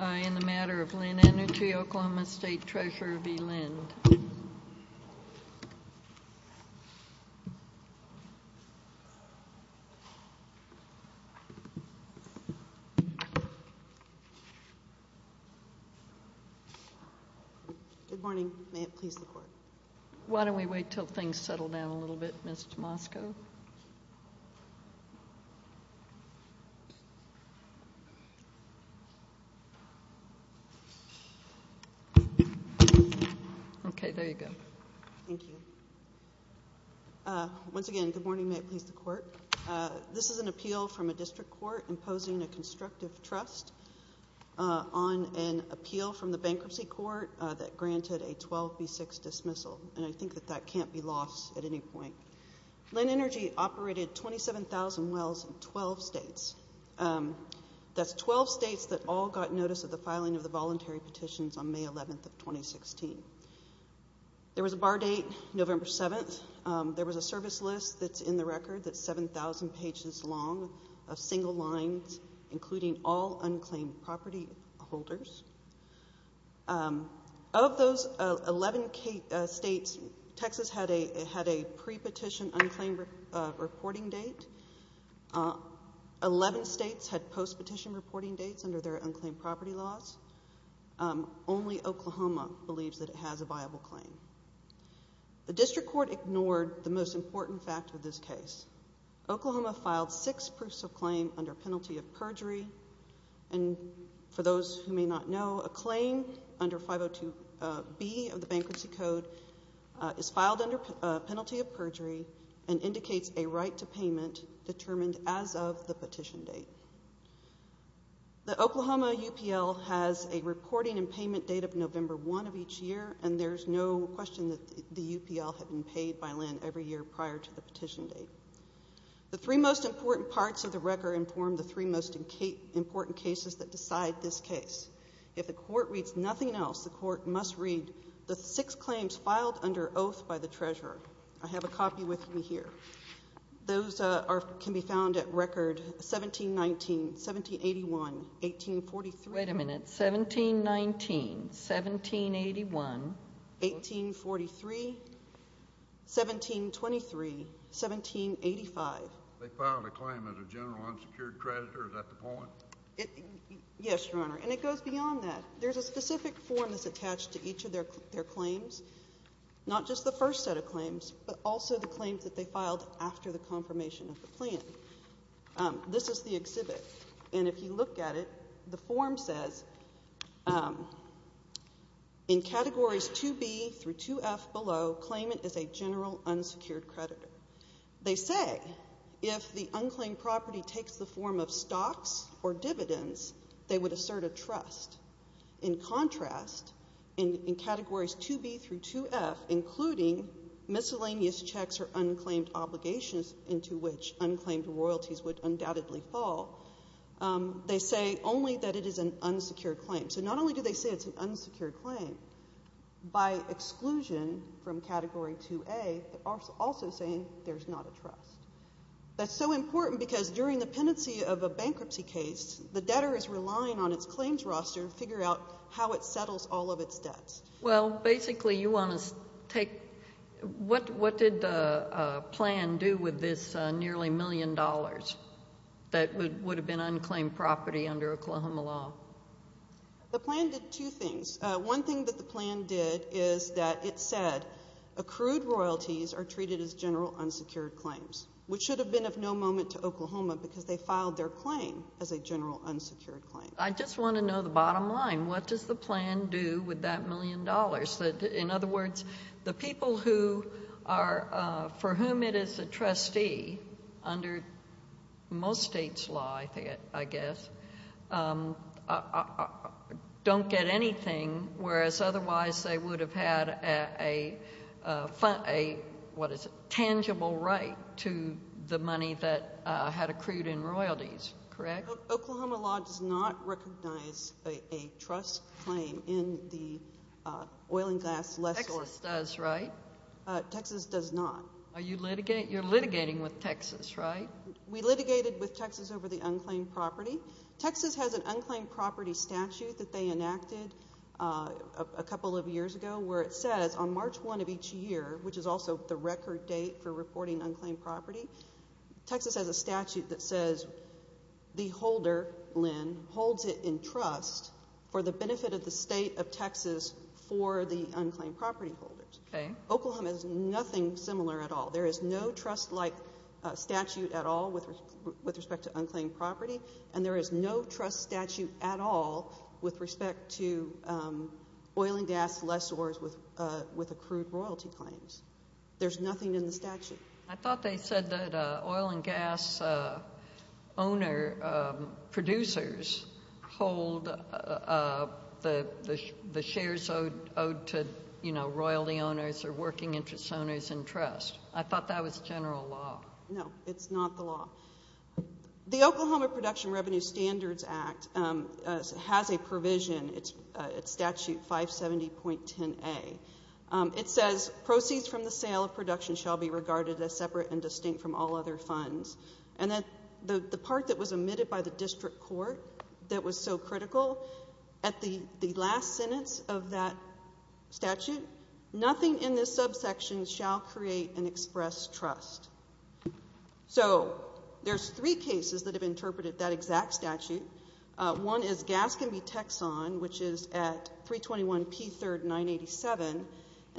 In the matter of Linn Energy, Oklahoma State Treasurer v. Linn. Good morning. May it please the Court. Why don't we wait until things settle down a little bit, Ms. Tomasco. Okay, there you go. Thank you. Once again, good morning. May it please the Court. This is an appeal from a district court imposing a constructive trust on an appeal from the bankruptcy court that granted a 12B6 dismissal. And I think that that can't be lost at any point. Linn Energy operated 27,000 wells in 12 states. That's 12 states that all got notice of the filing of the voluntary petitions on May 11, 2016. There was a bar date, November 7. There was a service list that's in the record that's 7,000 pages long of single lines, including all unclaimed property holders. Of those 11 states, Texas had a pre-petition unclaimed reporting date. Eleven states had post-petition reporting dates under their unclaimed property laws. Only Oklahoma believes that it has a viable claim. The district court ignored the most important fact of this case. Oklahoma filed six proofs of claim under penalty of perjury. And for those who may not know, a claim under 502B of the bankruptcy code is filed under penalty of perjury and indicates a right to payment determined as of the petition date. The Oklahoma UPL has a reporting and payment date of November 1 of each year, and there's no question that the UPL had been paid by Linn every year prior to the petition date. The three most important parts of the record inform the three most important cases that decide this case. If the court reads nothing else, the court must read the six claims filed under oath by the treasurer. I have a copy with me here. Those can be found at record 1719, 1781, 1843. Wait a minute. 1719, 1781. 1843, 1723, 1785. They filed a claim as a general unsecured creditor. Is that the point? Yes, Your Honor. And it goes beyond that. There's a specific form that's attached to each of their claims, not just the first set of claims, but also the claims that they filed after the confirmation of the plan. This is the exhibit, and if you look at it, the form says, in categories 2B through 2F below, claimant is a general unsecured creditor. They say if the unclaimed property takes the form of stocks or dividends, they would assert a trust. In contrast, in categories 2B through 2F, including miscellaneous checks or unclaimed obligations into which unclaimed royalties would undoubtedly fall, they say only that it is an unsecured claim. So not only do they say it's an unsecured claim by exclusion from category 2A, they're also saying there's not a trust. That's so important because during the pendency of a bankruptcy case, the debtor is relying on its claims roster to figure out how it settles all of its debts. Well, basically you want to take, what did the plan do with this nearly million dollars that would have been unclaimed property under Oklahoma law? The plan did two things. One thing that the plan did is that it said accrued royalties are treated as general unsecured claims, which should have been of no moment to Oklahoma because they filed their claim as a general unsecured claim. I just want to know the bottom line. What does the plan do with that million dollars? In other words, the people for whom it is a trustee under most states' law, I guess, don't get anything, whereas otherwise they would have had a, what is it, tangible right to the money that had accrued in royalties, correct? Oklahoma law does not recognize a trust claim in the oil and gas lessor. Texas does, right? Texas does not. You're litigating with Texas, right? We litigated with Texas over the unclaimed property. Texas has an unclaimed property statute that they enacted a couple of years ago where it says on March 1 of each year, which is also the record date for reporting unclaimed property, Texas has a statute that says the holder, Lynn, holds it in trust for the benefit of the state of Texas for the unclaimed property holders. Oklahoma has nothing similar at all. There is no trust-like statute at all with respect to unclaimed property, and there is no trust statute at all with respect to oil and gas lessors with accrued royalty claims. There's nothing in the statute. I thought they said that oil and gas producers hold the shares owed to, you know, I thought that was general law. No, it's not the law. The Oklahoma Production Revenue Standards Act has a provision. It's statute 570.10a. It says proceeds from the sale of production shall be regarded as separate and distinct from all other funds. And the part that was omitted by the district court that was so critical at the last sentence of that statute, nothing in this subsection shall create an express trust. So there's three cases that have interpreted that exact statute. One is Gaskin v. Texon, which is at 321P3rd987, and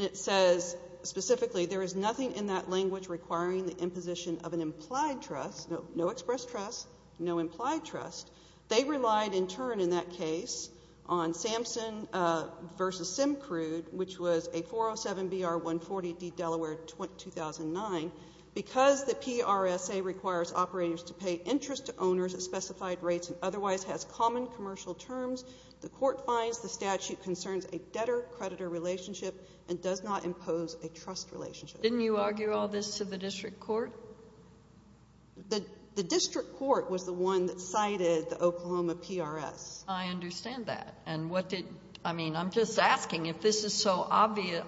it says specifically there is nothing in that language requiring the imposition of an implied trust, no express trust, no implied trust. They relied in turn in that case on Samson v. Simcrude, which was a 407BR140D Delaware 2009. Because the PRSA requires operators to pay interest to owners at specified rates and otherwise has common commercial terms, the court finds the statute concerns a debtor-creditor relationship and does not impose a trust relationship. Didn't you argue all this to the district court? The district court was the one that cited the Oklahoma PRS. I understand that. I mean, I'm just asking if this is so obvious.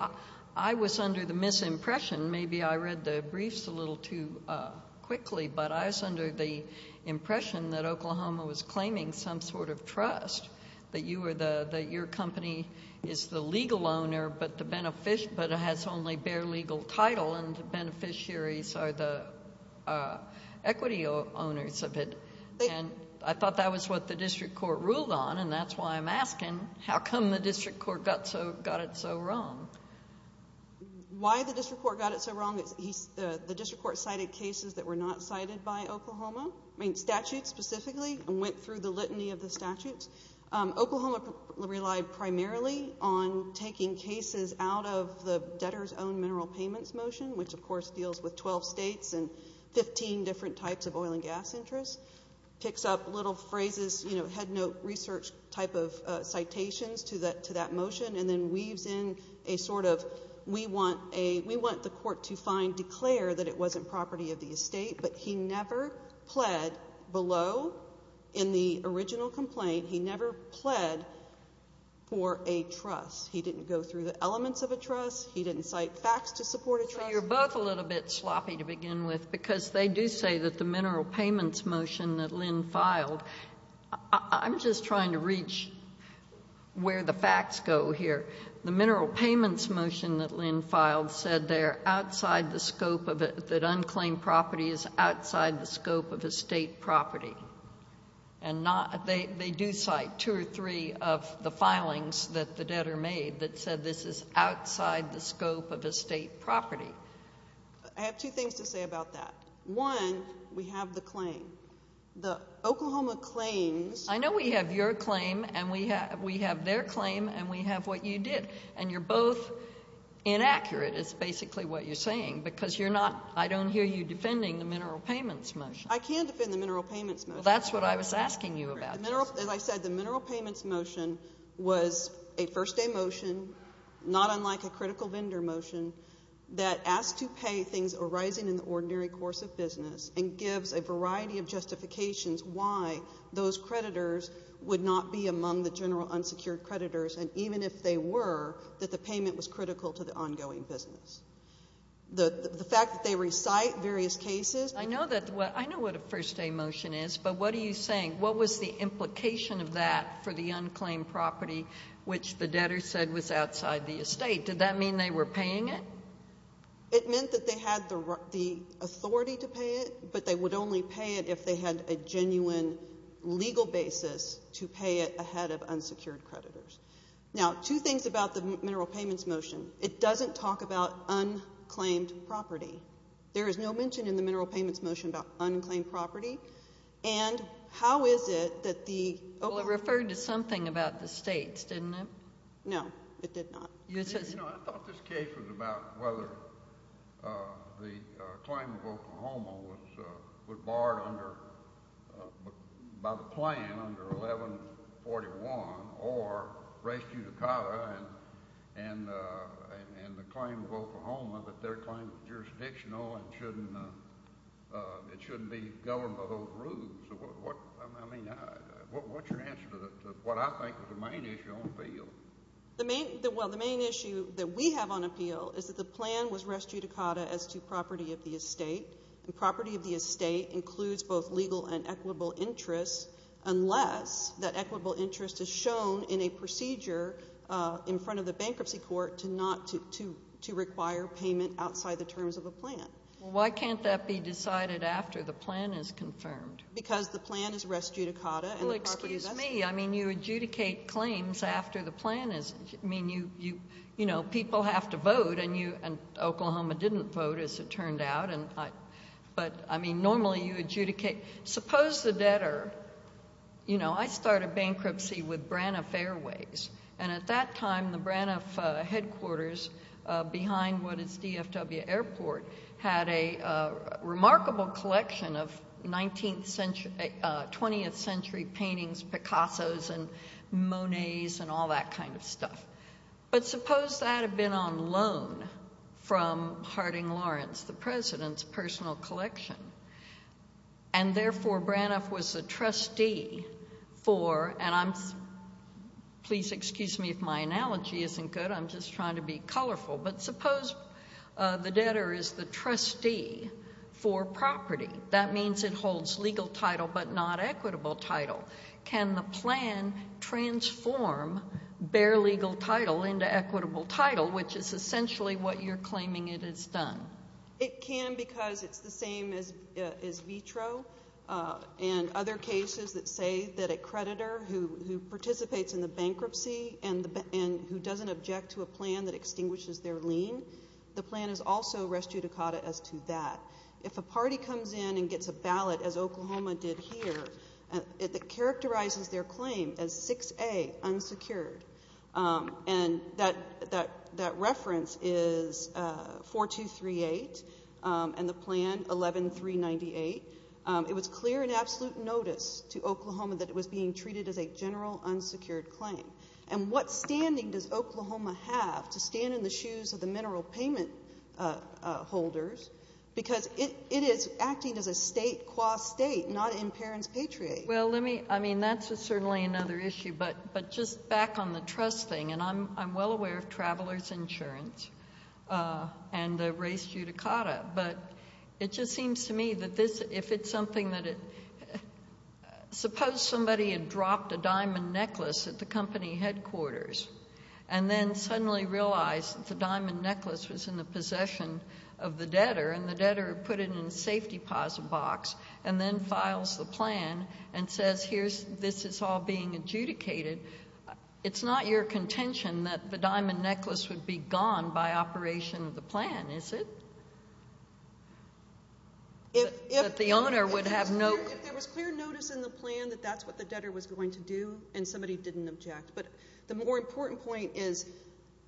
I was under the misimpression, maybe I read the briefs a little too quickly, but I was under the impression that Oklahoma was claiming some sort of trust, that your company is the legal owner but has only bare legal title and beneficiaries are the equity owners of it. And I thought that was what the district court ruled on, and that's why I'm asking how come the district court got it so wrong. Why the district court got it so wrong is the district court cited cases that were not cited by Oklahoma, I mean statutes specifically, and went through the litany of the statutes. Oklahoma relied primarily on taking cases out of the debtor's own mineral payments motion, which of course deals with 12 states and 15 different types of oil and gas interests, picks up little phrases, you know, headnote research type of citations to that motion, and then weaves in a sort of we want the court to find, declare that it wasn't property of the estate, but he never pled below in the original complaint, he never pled for a trust. He didn't go through the elements of a trust. He didn't cite facts to support a trust. So you're both a little bit sloppy to begin with because they do say that the mineral payments motion that Lynn filed, I'm just trying to reach where the facts go here. The mineral payments motion that Lynn filed said they are outside the scope of it, that unclaimed property is outside the scope of estate property. And they do cite two or three of the filings that the debtor made that said this is outside the scope of estate property. I have two things to say about that. One, we have the claim. The Oklahoma claims. I know we have your claim and we have their claim and we have what you did, and you're both inaccurate is basically what you're saying because you're not, I don't hear you defending the mineral payments motion. I can defend the mineral payments motion. That's what I was asking you about. As I said, the mineral payments motion was a first day motion, not unlike a critical vendor motion that asked to pay things arising in the ordinary course of business and gives a variety of justifications why those creditors would not be among the general unsecured creditors and even if they were, that the payment was critical to the ongoing business. The fact that they recite various cases. I know what a first day motion is, but what are you saying? What was the implication of that for the unclaimed property, which the debtor said was outside the estate? Did that mean they were paying it? It meant that they had the authority to pay it, but they would only pay it if they had a genuine legal basis to pay it ahead of unsecured creditors. Now, two things about the mineral payments motion. It doesn't talk about unclaimed property. There is no mention in the mineral payments motion about unclaimed property, and how is it that the— Well, it referred to something about the states, didn't it? No, it did not. You know, I thought this case was about whether the claim of Oklahoma was barred by the plan under 1141 or res judicata and the claim of Oklahoma that their claim was jurisdictional and it shouldn't be governed by those rules. I mean, what's your answer to what I think is the main issue on the field? Well, the main issue that we have on appeal is that the plan was res judicata as to property of the estate, and property of the estate includes both legal and equitable interests, unless that equitable interest is shown in a procedure in front of the bankruptcy court to require payment outside the terms of the plan. Well, why can't that be decided after the plan is confirmed? Because the plan is res judicata and the property is— I mean, you adjudicate claims after the plan is—I mean, you know, people have to vote, and Oklahoma didn't vote, as it turned out, but, I mean, normally you adjudicate. Suppose the debtor—you know, I started bankruptcy with Braniff Airways, and at that time the Braniff headquarters behind what is DFW Airport had a remarkable collection of 19th century—20th century paintings, Picassos and Monets and all that kind of stuff. But suppose that had been on loan from Harding Lawrence, the president's personal collection, and therefore Braniff was a trustee for—and I'm—please excuse me if my analogy isn't good. I'm just trying to be colorful. But suppose the debtor is the trustee for property. That means it holds legal title but not equitable title. Can the plan transform bare legal title into equitable title, which is essentially what you're claiming it has done? It can because it's the same as vitro and other cases that say that a creditor who participates in the bankruptcy and who doesn't object to a plan that extinguishes their lien, the plan is also res judicata as to that. If a party comes in and gets a ballot, as Oklahoma did here, it characterizes their claim as 6A, unsecured. And that reference is 4238 and the plan 11398. It was clear in absolute notice to Oklahoma that it was being treated as a general unsecured claim. And what standing does Oklahoma have to stand in the shoes of the mineral payment holders because it is acting as a state qua state, not in parents patriate? Well, let me—I mean, that's certainly another issue. But just back on the trust thing, and I'm well aware of traveler's insurance and the res judicata. But it just seems to me that if it's something that— suppose somebody had dropped a diamond necklace at the company headquarters and then suddenly realized that the diamond necklace was in the possession of the debtor and the debtor put it in a safety deposit box and then files the plan and says, here's—this is all being adjudicated. It's not your contention that the diamond necklace would be gone by operation of the plan, is it? That the owner would have no— If there was clear notice in the plan that that's what the debtor was going to do and somebody didn't object. But the more important point is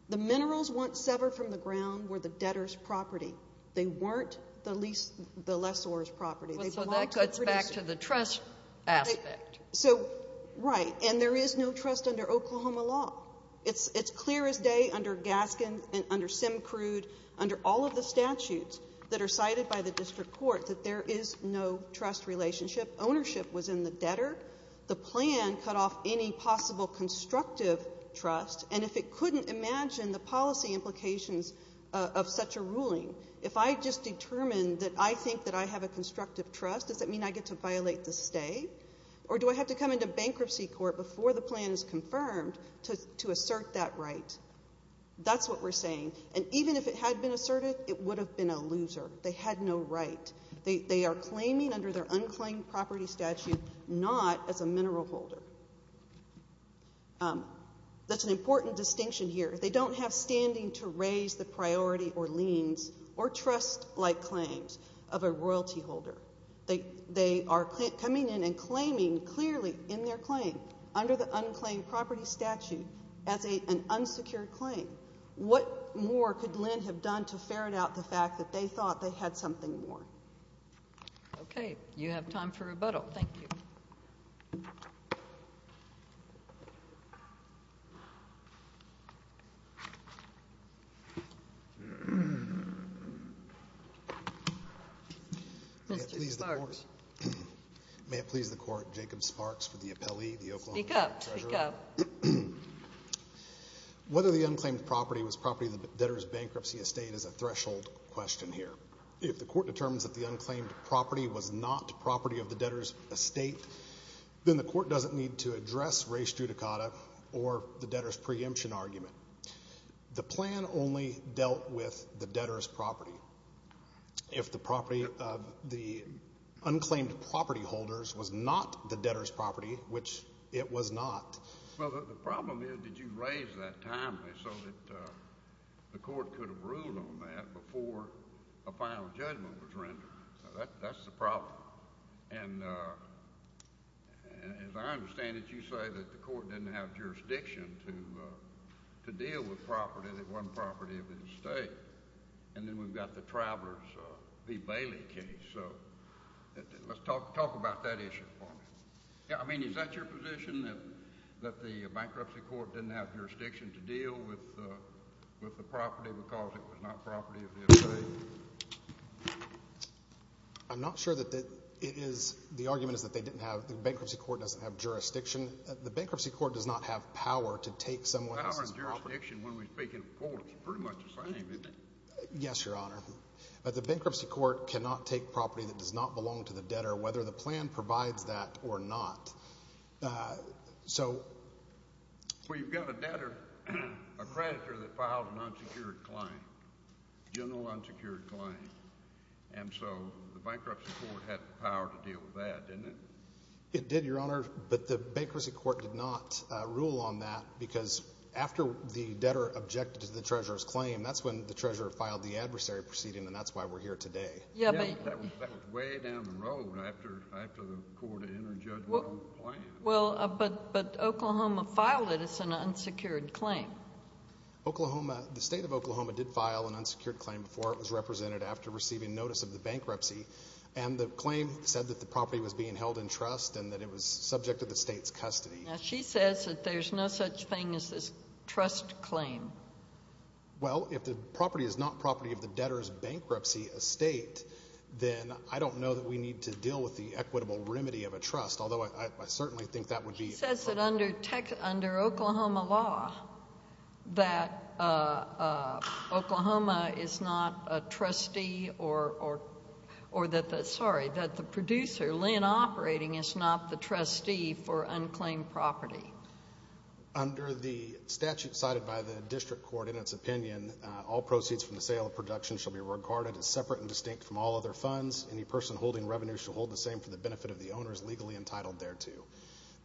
the minerals once severed from the ground were the debtor's property. They weren't the lessor's property. So that cuts back to the trust aspect. So, right. And there is no trust under Oklahoma law. It's clear as day under Gaskin and under Simcrude, under all of the statutes that are cited by the district court, that there is no trust relationship. Ownership was in the debtor. The plan cut off any possible constructive trust. And if it couldn't imagine the policy implications of such a ruling, if I just determined that I think that I have a constructive trust, does that mean I get to violate the stay? Or do I have to come into bankruptcy court before the plan is confirmed to assert that right? That's what we're saying. And even if it had been asserted, it would have been a loser. They had no right. They are claiming under their unclaimed property statute not as a mineral holder. That's an important distinction here. They don't have standing to raise the priority or liens or trust-like claims of a royalty holder. They are coming in and claiming clearly in their claim under the unclaimed property statute as an unsecured claim. What more could Lynn have done to ferret out the fact that they thought they had something more? You have time for rebuttal. Thank you. Mr. Sparks. May it please the Court, Jacob Sparks for the appellee, the Oklahoma State Treasurer. Speak up. Speak up. Whether the unclaimed property was property of the debtor's bankruptcy estate is a threshold question here. If the Court determines that the unclaimed property was not property of the debtor's estate, then the Court doesn't need to address Ray Stuttakata or the debtor's preemption argument. The plan only dealt with the debtor's property. If the property of the unclaimed property holders was not the debtor's property, which it was not. Well, the problem is that you raised that timely so that the Court could have ruled on that before a final judgment was rendered. That's the problem. And as I understand it, you say that the Court didn't have jurisdiction to deal with property that wasn't property of the estate. And then we've got the Travelers v. Bailey case. So let's talk about that issue for me. I mean, is that your position, that the bankruptcy court didn't have jurisdiction to deal with the property because it was not property of the estate? I'm not sure that it is. The argument is that they didn't have, the bankruptcy court doesn't have jurisdiction. The bankruptcy court does not have power to take someone else's property. Power and jurisdiction, when we speak in a court, is pretty much the same, isn't it? Yes, Your Honor. But the bankruptcy court cannot take property that does not belong to the debtor, whether the plan provides that or not. So— Well, you've got a debtor, a creditor that files an unsecured claim, general unsecured claim. And so the bankruptcy court had the power to deal with that, didn't it? It did, Your Honor. But the bankruptcy court did not rule on that because after the debtor objected to the treasurer's claim, that's when the treasurer filed the adversary proceeding, and that's why we're here today. Yes, but— That was way down the road after the court had entered judgment on the plan. Well, but Oklahoma filed it as an unsecured claim. Oklahoma, the State of Oklahoma did file an unsecured claim before it was represented after receiving notice of the bankruptcy. And the claim said that the property was being held in trust and that it was subject to the state's custody. Now, she says that there's no such thing as this trust claim. Well, if the property is not property of the debtor's bankruptcy estate, then I don't know that we need to deal with the equitable remedy of a trust, although I certainly think that would be— Sorry, that the producer, Lynn Operating, is not the trustee for unclaimed property. Under the statute cited by the district court, in its opinion, all proceeds from the sale of production shall be regarded as separate and distinct from all other funds. Any person holding revenue shall hold the same for the benefit of the owners legally entitled thereto.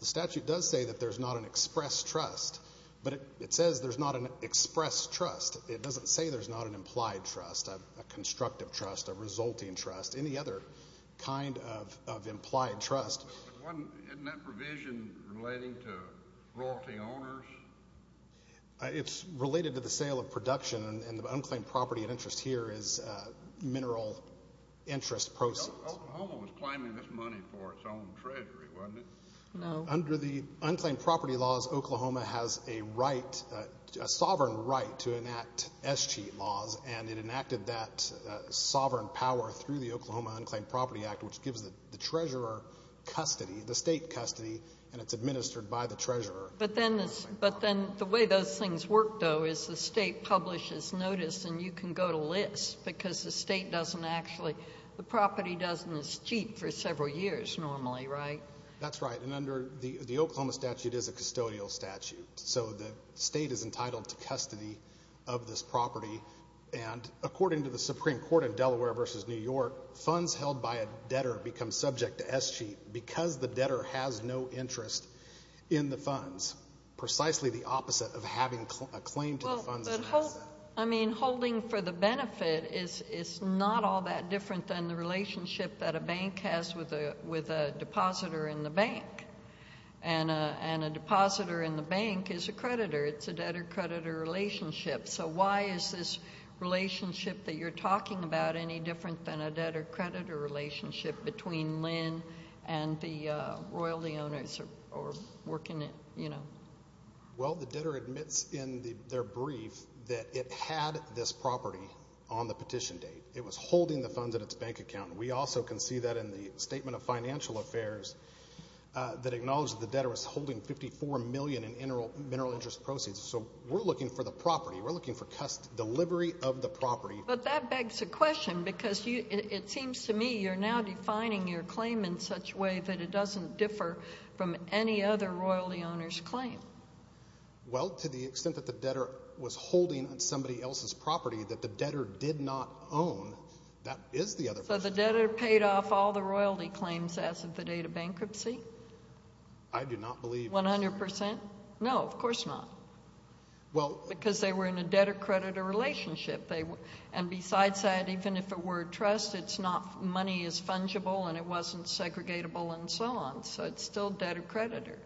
The statute does say that there's not an express trust, but it says there's not an express trust. It doesn't say there's not an implied trust, a constructive trust, a resulting trust, any other kind of implied trust. Isn't that provision relating to royalty owners? It's related to the sale of production, and the unclaimed property of interest here is mineral interest proceeds. Oklahoma was claiming this money for its own treasury, wasn't it? No. Under the unclaimed property laws, Oklahoma has a right, a sovereign right, to enact escheat laws, and it enacted that sovereign power through the Oklahoma Unclaimed Property Act, which gives the treasurer custody, the state custody, and it's administered by the treasurer. But then the way those things work, though, is the state publishes notice, and you can go to lists because the state doesn't actually—the property doesn't escheat for several years normally, right? That's right, and under the Oklahoma statute is a custodial statute, so the state is entitled to custody of this property. And according to the Supreme Court in Delaware v. New York, funds held by a debtor become subject to escheat because the debtor has no interest in the funds, precisely the opposite of having a claim to the funds. But, I mean, holding for the benefit is not all that different than the relationship that a bank has with a depositor in the bank, and a depositor in the bank is a creditor. It's a debtor-creditor relationship, so why is this relationship that you're talking about any different than a debtor-creditor relationship between Lynn and the royalty owners or working— Well, the debtor admits in their brief that it had this property on the petition date. It was holding the funds in its bank account. We also can see that in the statement of financial affairs that acknowledged the debtor was holding $54 million in mineral interest proceeds. So we're looking for the property. We're looking for delivery of the property. But that begs a question because it seems to me you're now defining your claim in such a way that it doesn't differ from any other royalty owner's claim. Well, to the extent that the debtor was holding somebody else's property that the debtor did not own, that is the other— So the debtor paid off all the royalty claims as of the date of bankruptcy? I do not believe— One hundred percent? No, of course not. Well— And besides that, even if it were a trust, it's not—money is fungible and it wasn't segregatable and so on. So it's still debtor-creditor.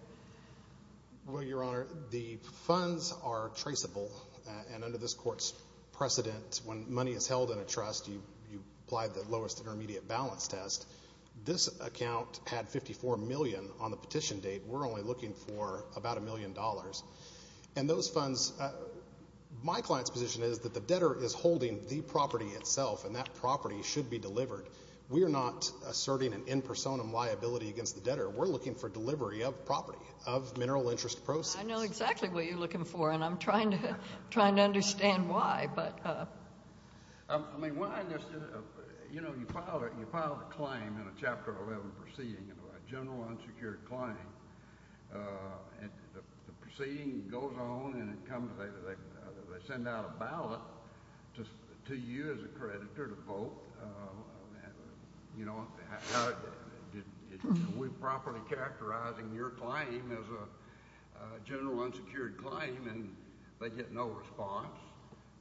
Well, Your Honor, the funds are traceable. And under this Court's precedent, when money is held in a trust, you apply the lowest intermediate balance test. This account had $54 million on the petition date. We're only looking for about $1 million. And those funds—my client's position is that the debtor is holding the property itself, and that property should be delivered. We are not asserting an in personam liability against the debtor. We're looking for delivery of property, of mineral interest proceeds. I know exactly what you're looking for, and I'm trying to understand why. I mean, when I understood—you know, you filed a claim in a Chapter 11 proceeding, a general unsecured claim. And the proceeding goes on, and it comes—they send out a ballot to you as a creditor to vote. You know, we're properly characterizing your claim as a general unsecured claim, and they get no response.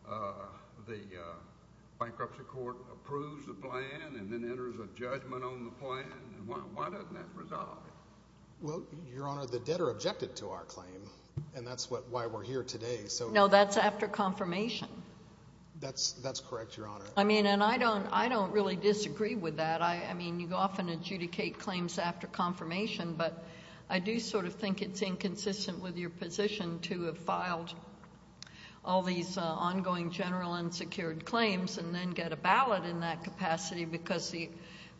The bankruptcy court approves the plan and then enters a judgment on the plan. Why doesn't that resolve it? Well, Your Honor, the debtor objected to our claim, and that's why we're here today. No, that's after confirmation. That's correct, Your Honor. I mean, and I don't really disagree with that. I mean, you often adjudicate claims after confirmation, but I do sort of think it's inconsistent with your position to have filed all these ongoing general unsecured claims and then get a ballot in that capacity because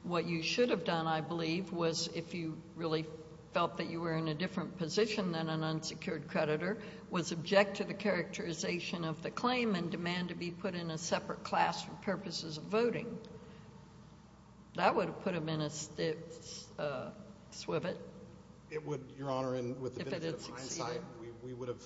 what you should have done, I believe, was if you really felt that you were in a different position than an unsecured creditor, was object to the characterization of the claim and demand to be put in a separate class for purposes of voting. That would have put him in a stiff swivet. It would, Your Honor, and with the benefit of hindsight, we would have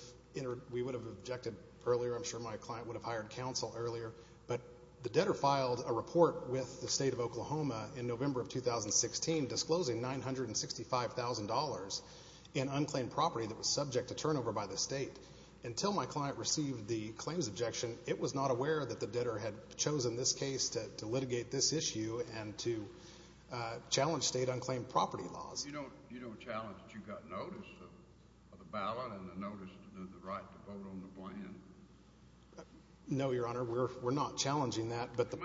objected earlier. I'm sure my client would have hired counsel earlier. But the debtor filed a report with the state of Oklahoma in November of 2016 disclosing $965,000 in unclaimed property that was subject to turnover by the state. Until my client received the claims objection, it was not aware that the debtor had chosen this case to litigate this issue and to challenge state unclaimed property laws. You don't challenge that you got notice of the ballot and the notice of the right to vote on the plan? No, Your Honor, we're not challenging that. Judge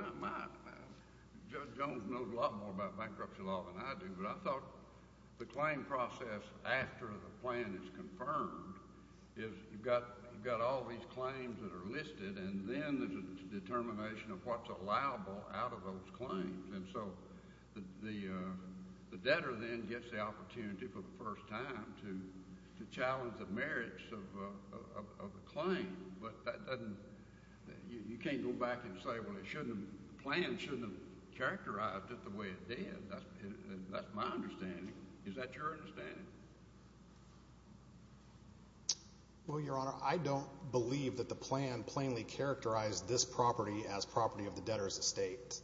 Jones knows a lot more about bankruptcy law than I do, but I thought the claim process after the plan is confirmed is you've got all these claims that are listed, and then there's a determination of what's allowable out of those claims. And so the debtor then gets the opportunity for the first time to challenge the merits of the claim. You can't go back and say, well, the plan shouldn't have characterized it the way it did. That's my understanding. Is that your understanding? Well, Your Honor, I don't believe that the plan plainly characterized this property as property of the debtor's estate.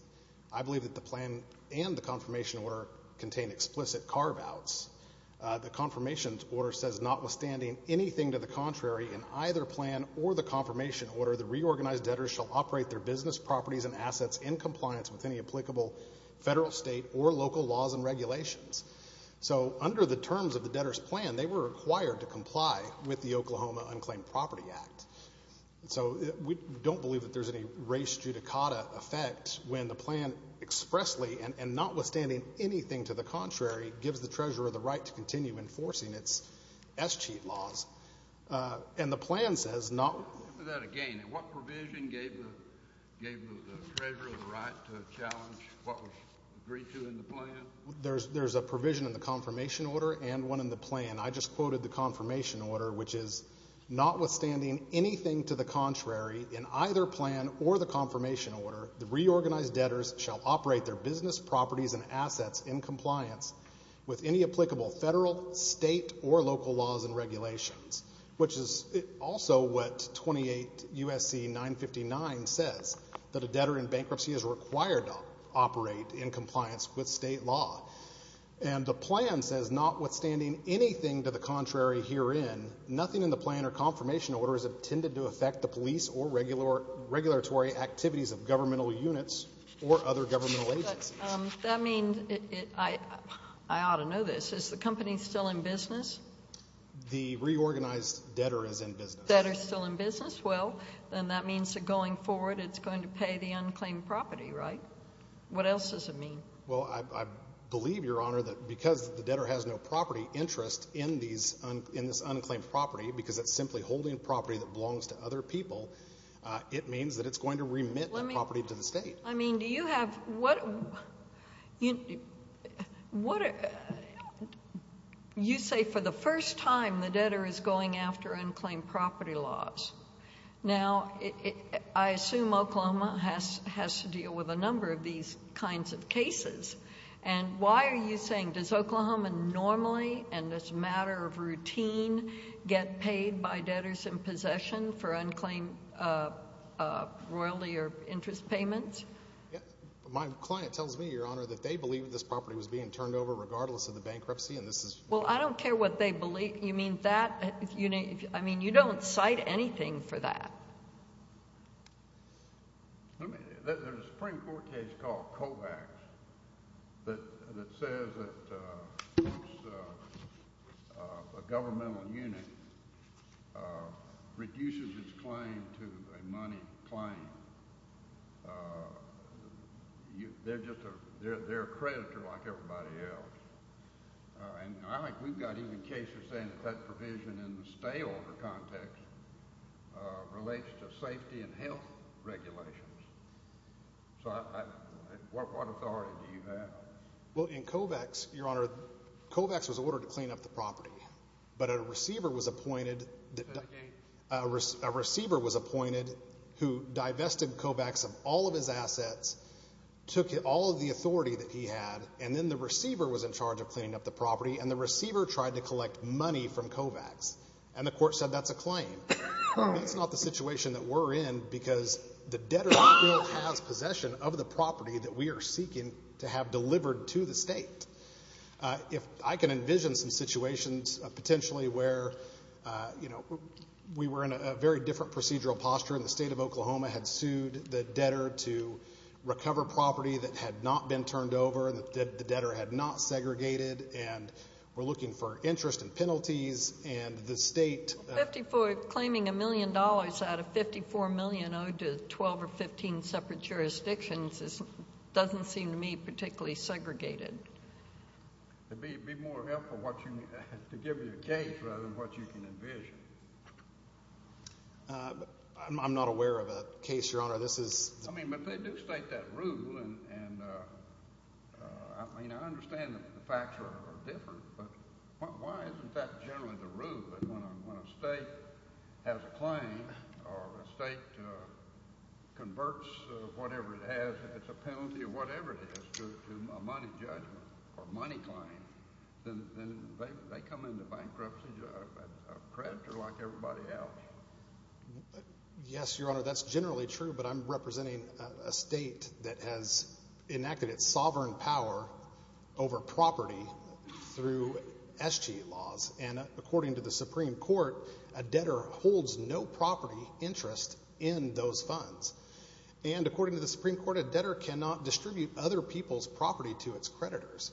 I believe that the plan and the confirmation order contain explicit carve-outs. The confirmation order says, notwithstanding anything to the contrary in either plan or the confirmation order, the reorganized debtors shall operate their business, properties, and assets in compliance with any applicable federal, state, or local laws and regulations. So under the terms of the debtor's plan, they were required to comply with the Oklahoma Unclaimed Property Act. So we don't believe that there's any race judicata effect when the plan expressly and notwithstanding anything to the contrary gives the treasurer the right to continue enforcing its S.C.E.A.T. laws. And the plan says not— Repeat that again. What provision gave the treasurer the right to challenge what was agreed to in the plan? There's a provision in the confirmation order and one in the plan. I just quoted the confirmation order, which is notwithstanding anything to the contrary in either plan or the confirmation order, the reorganized debtors shall operate their business, properties, and assets in compliance with any applicable federal, state, or local laws and regulations, which is also what 28 U.S.C. 959 says, that a debtor in bankruptcy is required to operate in compliance with state law. And the plan says, notwithstanding anything to the contrary herein, nothing in the plan or confirmation order is intended to affect the police or regulatory activities of governmental units or other governmental agencies. But that means I ought to know this. Is the company still in business? The reorganized debtor is in business. Debtor is still in business. Well, then that means that going forward it's going to pay the unclaimed property, right? What else does it mean? Well, I believe, Your Honor, that because the debtor has no property interest in this unclaimed property because it's simply holding property that belongs to other people, it means that it's going to remit that property to the State. I mean, do you have what you say for the first time the debtor is going after unclaimed property laws? Now, I assume Oklahoma has to deal with a number of these kinds of cases. And why are you saying, does Oklahoma normally and as a matter of routine get paid by debtors in possession for unclaimed royalty or interest payments? My client tells me, Your Honor, that they believe this property was being turned over regardless of the bankruptcy. Well, I don't care what they believe. You mean that? I mean, you don't cite anything for that. There's a Supreme Court case called Kovacs that says that a governmental unit reduces its claim to a money claim. They're a creditor like everybody else. And I think we've got even cases saying that that provision in the stayover context relates to safety and health regulations. So what authority do you have? Well, in Kovacs, Your Honor, Kovacs was ordered to clean up the property, but a receiver was appointed who divested Kovacs of all of his assets, took all of the authority that he had, and then the receiver was in charge of cleaning up the property, and the receiver tried to collect money from Kovacs. And the court said that's a claim. That's not the situation that we're in because the debtor has possession of the property that we are seeking to have delivered to the state. If I can envision some situations potentially where, you know, we were in a very different procedural posture and the state of Oklahoma had sued the debtor to recover property that had not been turned over, that the debtor had not segregated, and we're looking for interest and penalties, and the state. Claiming $1 million out of $54 million owed to 12 or 15 separate jurisdictions doesn't seem to me particularly segregated. It would be more helpful to give you a case rather than what you can envision. I'm not aware of a case, Your Honor. I mean, but they do state that rule, and I mean I understand that the facts are different, but why isn't that generally the rule that when a state has a claim or a state converts whatever it has, a penalty or whatever it is to a money judgment or money claim, then they come into bankruptcy a predator like everybody else? Yes, Your Honor, that's generally true, but I'm representing a state that has enacted its sovereign power over property through SG laws, and according to the Supreme Court, a debtor holds no property interest in those funds. And according to the Supreme Court, a debtor cannot distribute other people's property to its creditors,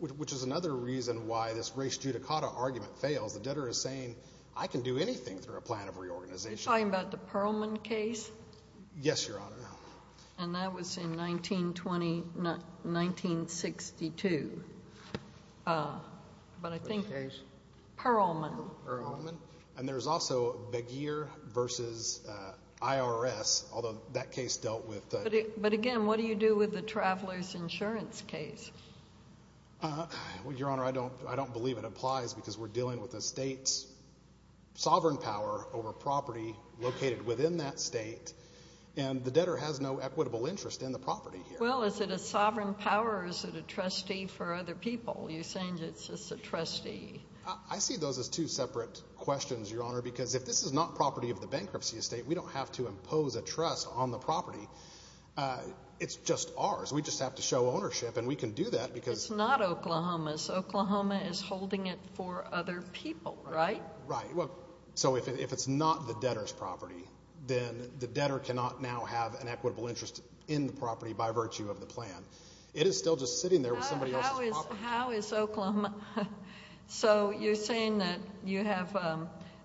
which is another reason why this race judicata argument fails. The debtor is saying, I can do anything through a plan of reorganization. Are you talking about the Perlman case? Yes, Your Honor. And that was in 1920, 1962, but I think Perlman. Perlman. And there's also Begier v. IRS, although that case dealt with the ‑‑ But again, what do you do with the traveler's insurance case? Well, Your Honor, I don't believe it applies because we're dealing with a state's sovereign power over property located within that state, and the debtor has no equitable interest in the property here. Well, is it a sovereign power or is it a trustee for other people? You're saying it's just a trustee. I see those as two separate questions, Your Honor, because if this is not property of the bankruptcy estate, we don't have to impose a trust on the property. It's just ours. We just have to show ownership, and we can do that because ‑‑ It's not Oklahoma's. Oklahoma is holding it for other people, right? Right. So if it's not the debtor's property, then the debtor cannot now have an equitable interest in the property by virtue of the plan. It is still just sitting there with somebody else's property. How is Oklahoma ‑‑ So you're saying that you have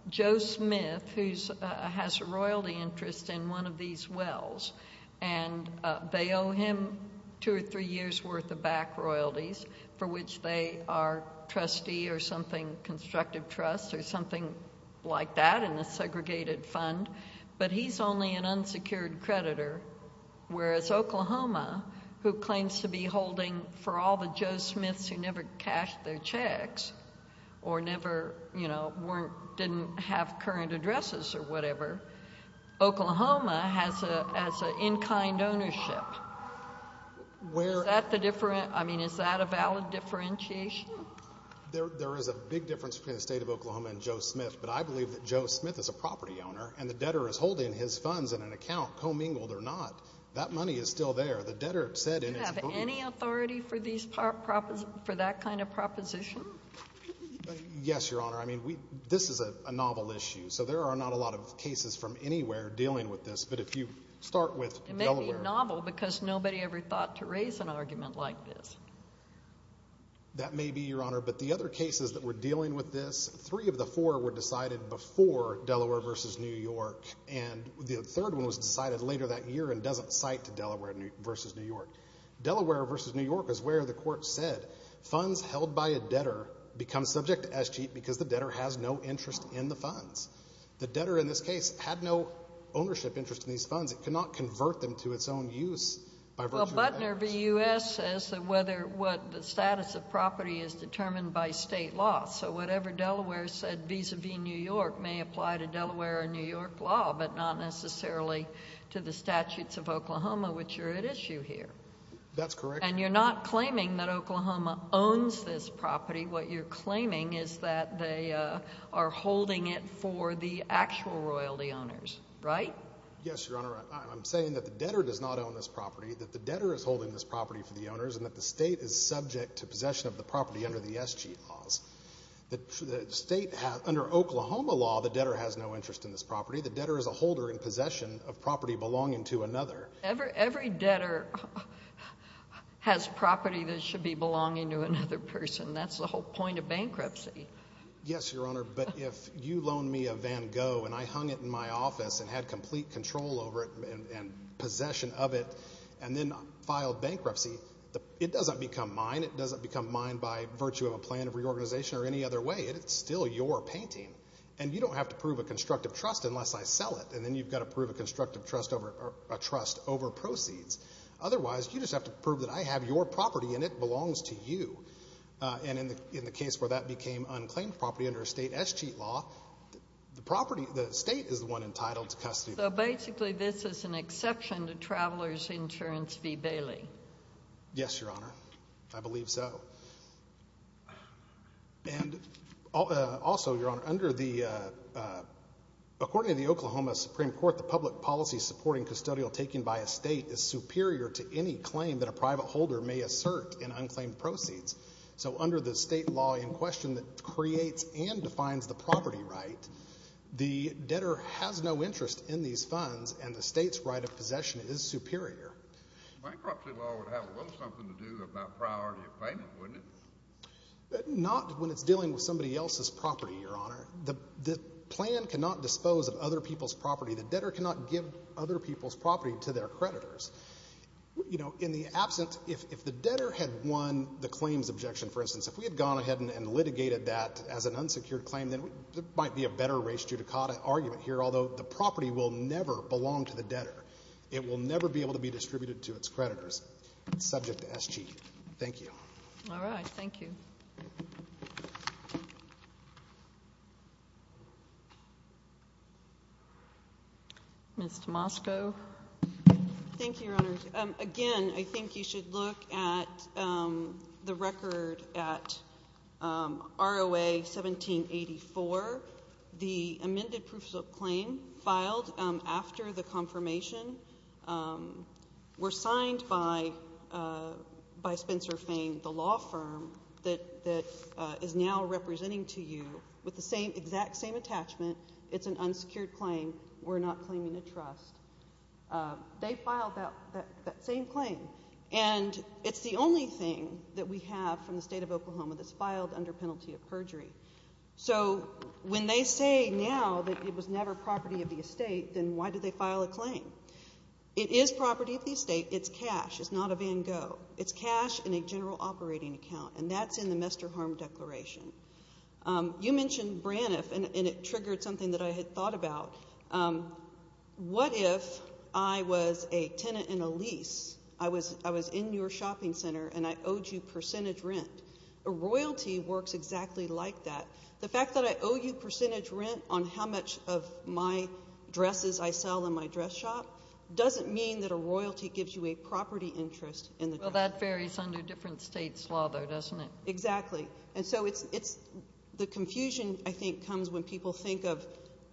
Joe Smith, who has a royalty interest in one of these wells, and they owe him two or three years' worth of back royalties for which they are trustee or something, constructive trust or something like that in a segregated fund, but he's only an unsecured creditor, whereas Oklahoma, who claims to be holding for all the Joe Smiths who never cashed their checks or never, you know, didn't have current addresses or whatever, Oklahoma has an in‑kind ownership. Is that a valid differentiation? There is a big difference between the State of Oklahoma and Joe Smith, but I believe that Joe Smith is a property owner, and the debtor is holding his funds in an account, commingled or not. That money is still there. The debtor said in his book ‑‑ Do you have any authority for that kind of proposition? Yes, Your Honor. I mean, this is a novel issue, so there are not a lot of cases from anywhere dealing with this, but if you start with Delaware ‑‑ It may be novel because nobody ever thought to raise an argument like this. That may be, Your Honor, but the other cases that were dealing with this, three of the four were decided before Delaware v. New York, and the third one was decided later that year and doesn't cite Delaware v. New York. Delaware v. New York is where the court said funds held by a debtor become subject to SG because the debtor has no interest in the funds. The debtor in this case had no ownership interest in these funds. It could not convert them to its own use. Well, Butner v. U.S. says whether the status of property is determined by state law, so whatever Delaware said vis‑a‑vis New York may apply to Delaware and New York law, but not necessarily to the statutes of Oklahoma, which are at issue here. That's correct. And you're not claiming that Oklahoma owns this property. What you're claiming is that they are holding it for the actual royalty owners, right? Yes, Your Honor. I'm saying that the debtor does not own this property, that the debtor is holding this property for the owners, and that the state is subject to possession of the property under the SG laws. Under Oklahoma law, the debtor has no interest in this property. The debtor is a holder in possession of property belonging to another. Every debtor has property that should be belonging to another person. That's the whole point of bankruptcy. Yes, Your Honor, but if you loan me a Van Gogh and I hung it in my office and had complete control over it and possession of it and then filed bankruptcy, it doesn't become mine. It doesn't become mine by virtue of a plan of reorganization or any other way. It's still your painting. And you don't have to prove a constructive trust unless I sell it, and then you've got to prove a constructive trust over proceeds. Otherwise, you just have to prove that I have your property and it belongs to you. And in the case where that became unclaimed property under a state SG law, the state is the one entitled to custody. So basically this is an exception to Traveler's Insurance v. Bailey. Yes, Your Honor. I believe so. And also, Your Honor, under the—according to the Oklahoma Supreme Court, the public policy supporting custodial taking by a state is superior to any claim that a private holder may assert in unclaimed proceeds. So under the state law in question that creates and defines the property right, the debtor has no interest in these funds, and the state's right of possession is superior. Bankruptcy law would have a little something to do about priority of payment, wouldn't it? Not when it's dealing with somebody else's property, Your Honor. The plan cannot dispose of other people's property. The debtor cannot give other people's property to their creditors. You know, in the absence, if the debtor had won the claims objection, for instance, if we had gone ahead and litigated that as an unsecured claim, then there might be a better race judicata argument here, although the property will never belong to the debtor. It will never be able to be distributed to its creditors. It's subject to SG. Thank you. All right. Ms. Tomasco. Thank you, Your Honor. Again, I think you should look at the record at ROA 1784. The amended proof of claim filed after the confirmation were signed by Spencer Fain, the law firm that is now representing to you with the exact same attachment. It's an unsecured claim. We're not claiming a trust. They filed that same claim, and it's the only thing that we have from the State of Oklahoma that's filed under penalty of perjury. So when they say now that it was never property of the estate, then why did they file a claim? It is property of the estate. It's cash. It's not a Van Gogh. It's cash in a general operating account, and that's in the Mester Harm Declaration. You mentioned Braniff, and it triggered something that I had thought about. What if I was a tenant in a lease, I was in your shopping center, and I owed you percentage rent? A royalty works exactly like that. The fact that I owe you percentage rent on how much of my dresses I sell in my dress shop doesn't mean that a royalty gives you a property interest in the dress shop. Well, that varies under different states' law, though, doesn't it? Exactly. And so the confusion, I think, comes when people think of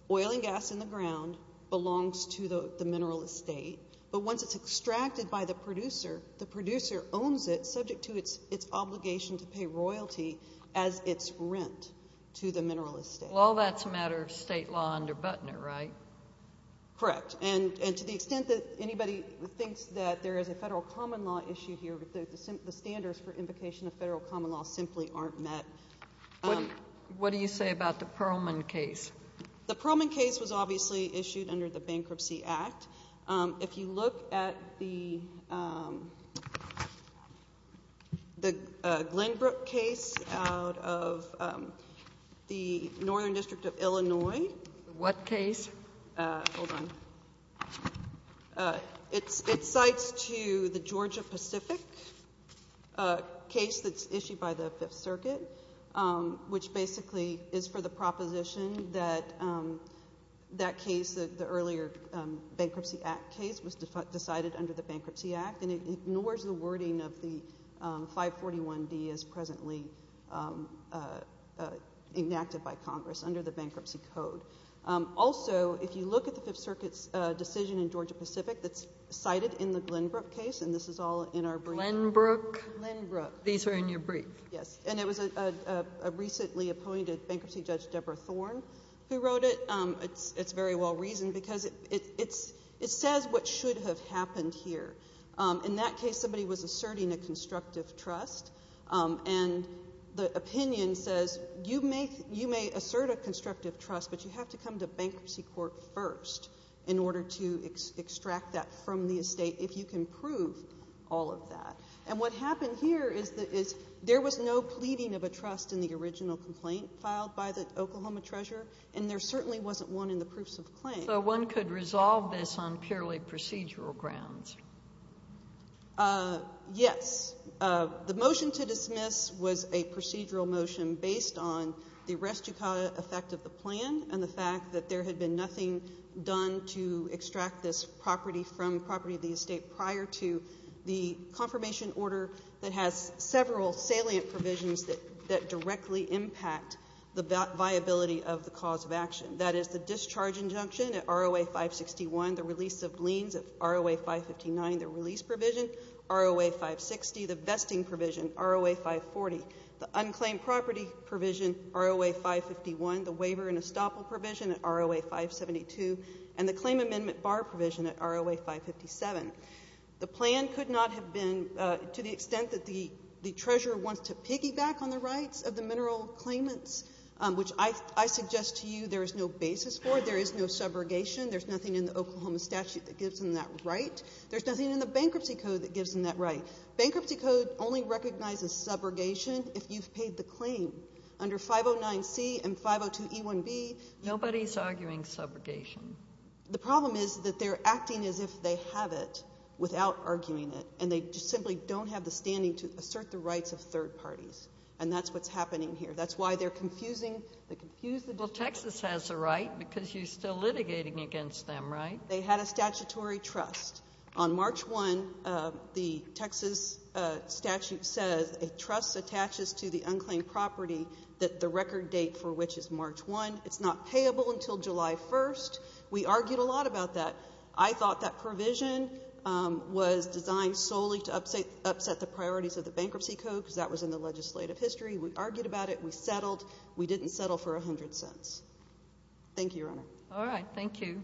oil and gas in the ground belongs to the mineral estate, but once it's extracted by the producer, the producer owns it, subject to its obligation to pay royalty as its rent to the mineral estate. Well, all that's a matter of state law under Butner, right? Correct. And to the extent that anybody thinks that there is a federal common law issue here, the standards for invocation of federal common law simply aren't met. What do you say about the Pearlman case? The Pearlman case was obviously issued under the Bankruptcy Act. If you look at the Glenbrook case out of the Northern District of Illinois. What case? Hold on. It cites to the Georgia Pacific case that's issued by the Fifth Circuit, which basically is for the proposition that that case, the earlier Bankruptcy Act case, was decided under the Bankruptcy Act, and it ignores the wording of the 541D as presently enacted by Congress under the Bankruptcy Code. Also, if you look at the Fifth Circuit's decision in Georgia Pacific that's cited in the Glenbrook case, and this is all in our brief. Glenbrook? Glenbrook. These are in your brief. Yes. And it was a recently appointed bankruptcy judge, Deborah Thorne, who wrote it. It's very well reasoned because it says what should have happened here. In that case, somebody was asserting a constructive trust, and the opinion says you may assert a constructive trust, but you have to come to bankruptcy court first in order to extract that from the estate if you can prove all of that. And what happened here is there was no pleading of a trust in the original complaint filed by the Oklahoma treasurer, and there certainly wasn't one in the proofs of claim. So one could resolve this on purely procedural grounds. Yes. The motion to dismiss was a procedural motion based on the restituta effect of the plan and the fact that there had been nothing done to extract this property from property of the estate prior to the confirmation order that has several salient provisions that directly impact the viability of the cause of action. That is the discharge injunction at ROA 561, the release of liens at ROA 559, the release provision, ROA 560, the vesting provision, ROA 540, the unclaimed property provision, ROA 551, the waiver and estoppel provision at ROA 572, and the claim amendment bar provision at ROA 557. The plan could not have been to the extent that the treasurer wants to piggyback on the rights of the mineral claimants, which I suggest to you there is no basis for. There is no subrogation. There's nothing in the Oklahoma statute that gives them that right. There's nothing in the bankruptcy code that gives them that right. Bankruptcy code only recognizes subrogation if you've paid the claim. Under 509C and 502E1B. Nobody's arguing subrogation. The problem is that they're acting as if they have it without arguing it, and they just simply don't have the standing to assert the rights of third parties, and that's what's happening here. That's why they're confusing the confusion. Well, Texas has the right because you're still litigating against them, right? They had a statutory trust. On March 1, the Texas statute says a trust attaches to the unclaimed property that the record date for which is March 1. It's not payable until July 1. We argued a lot about that. I thought that provision was designed solely to upset the priorities of the bankruptcy code because that was in the legislative history. We argued about it. We settled. We didn't settle for 100 cents. Thank you, Your Honor. All right. Thank you.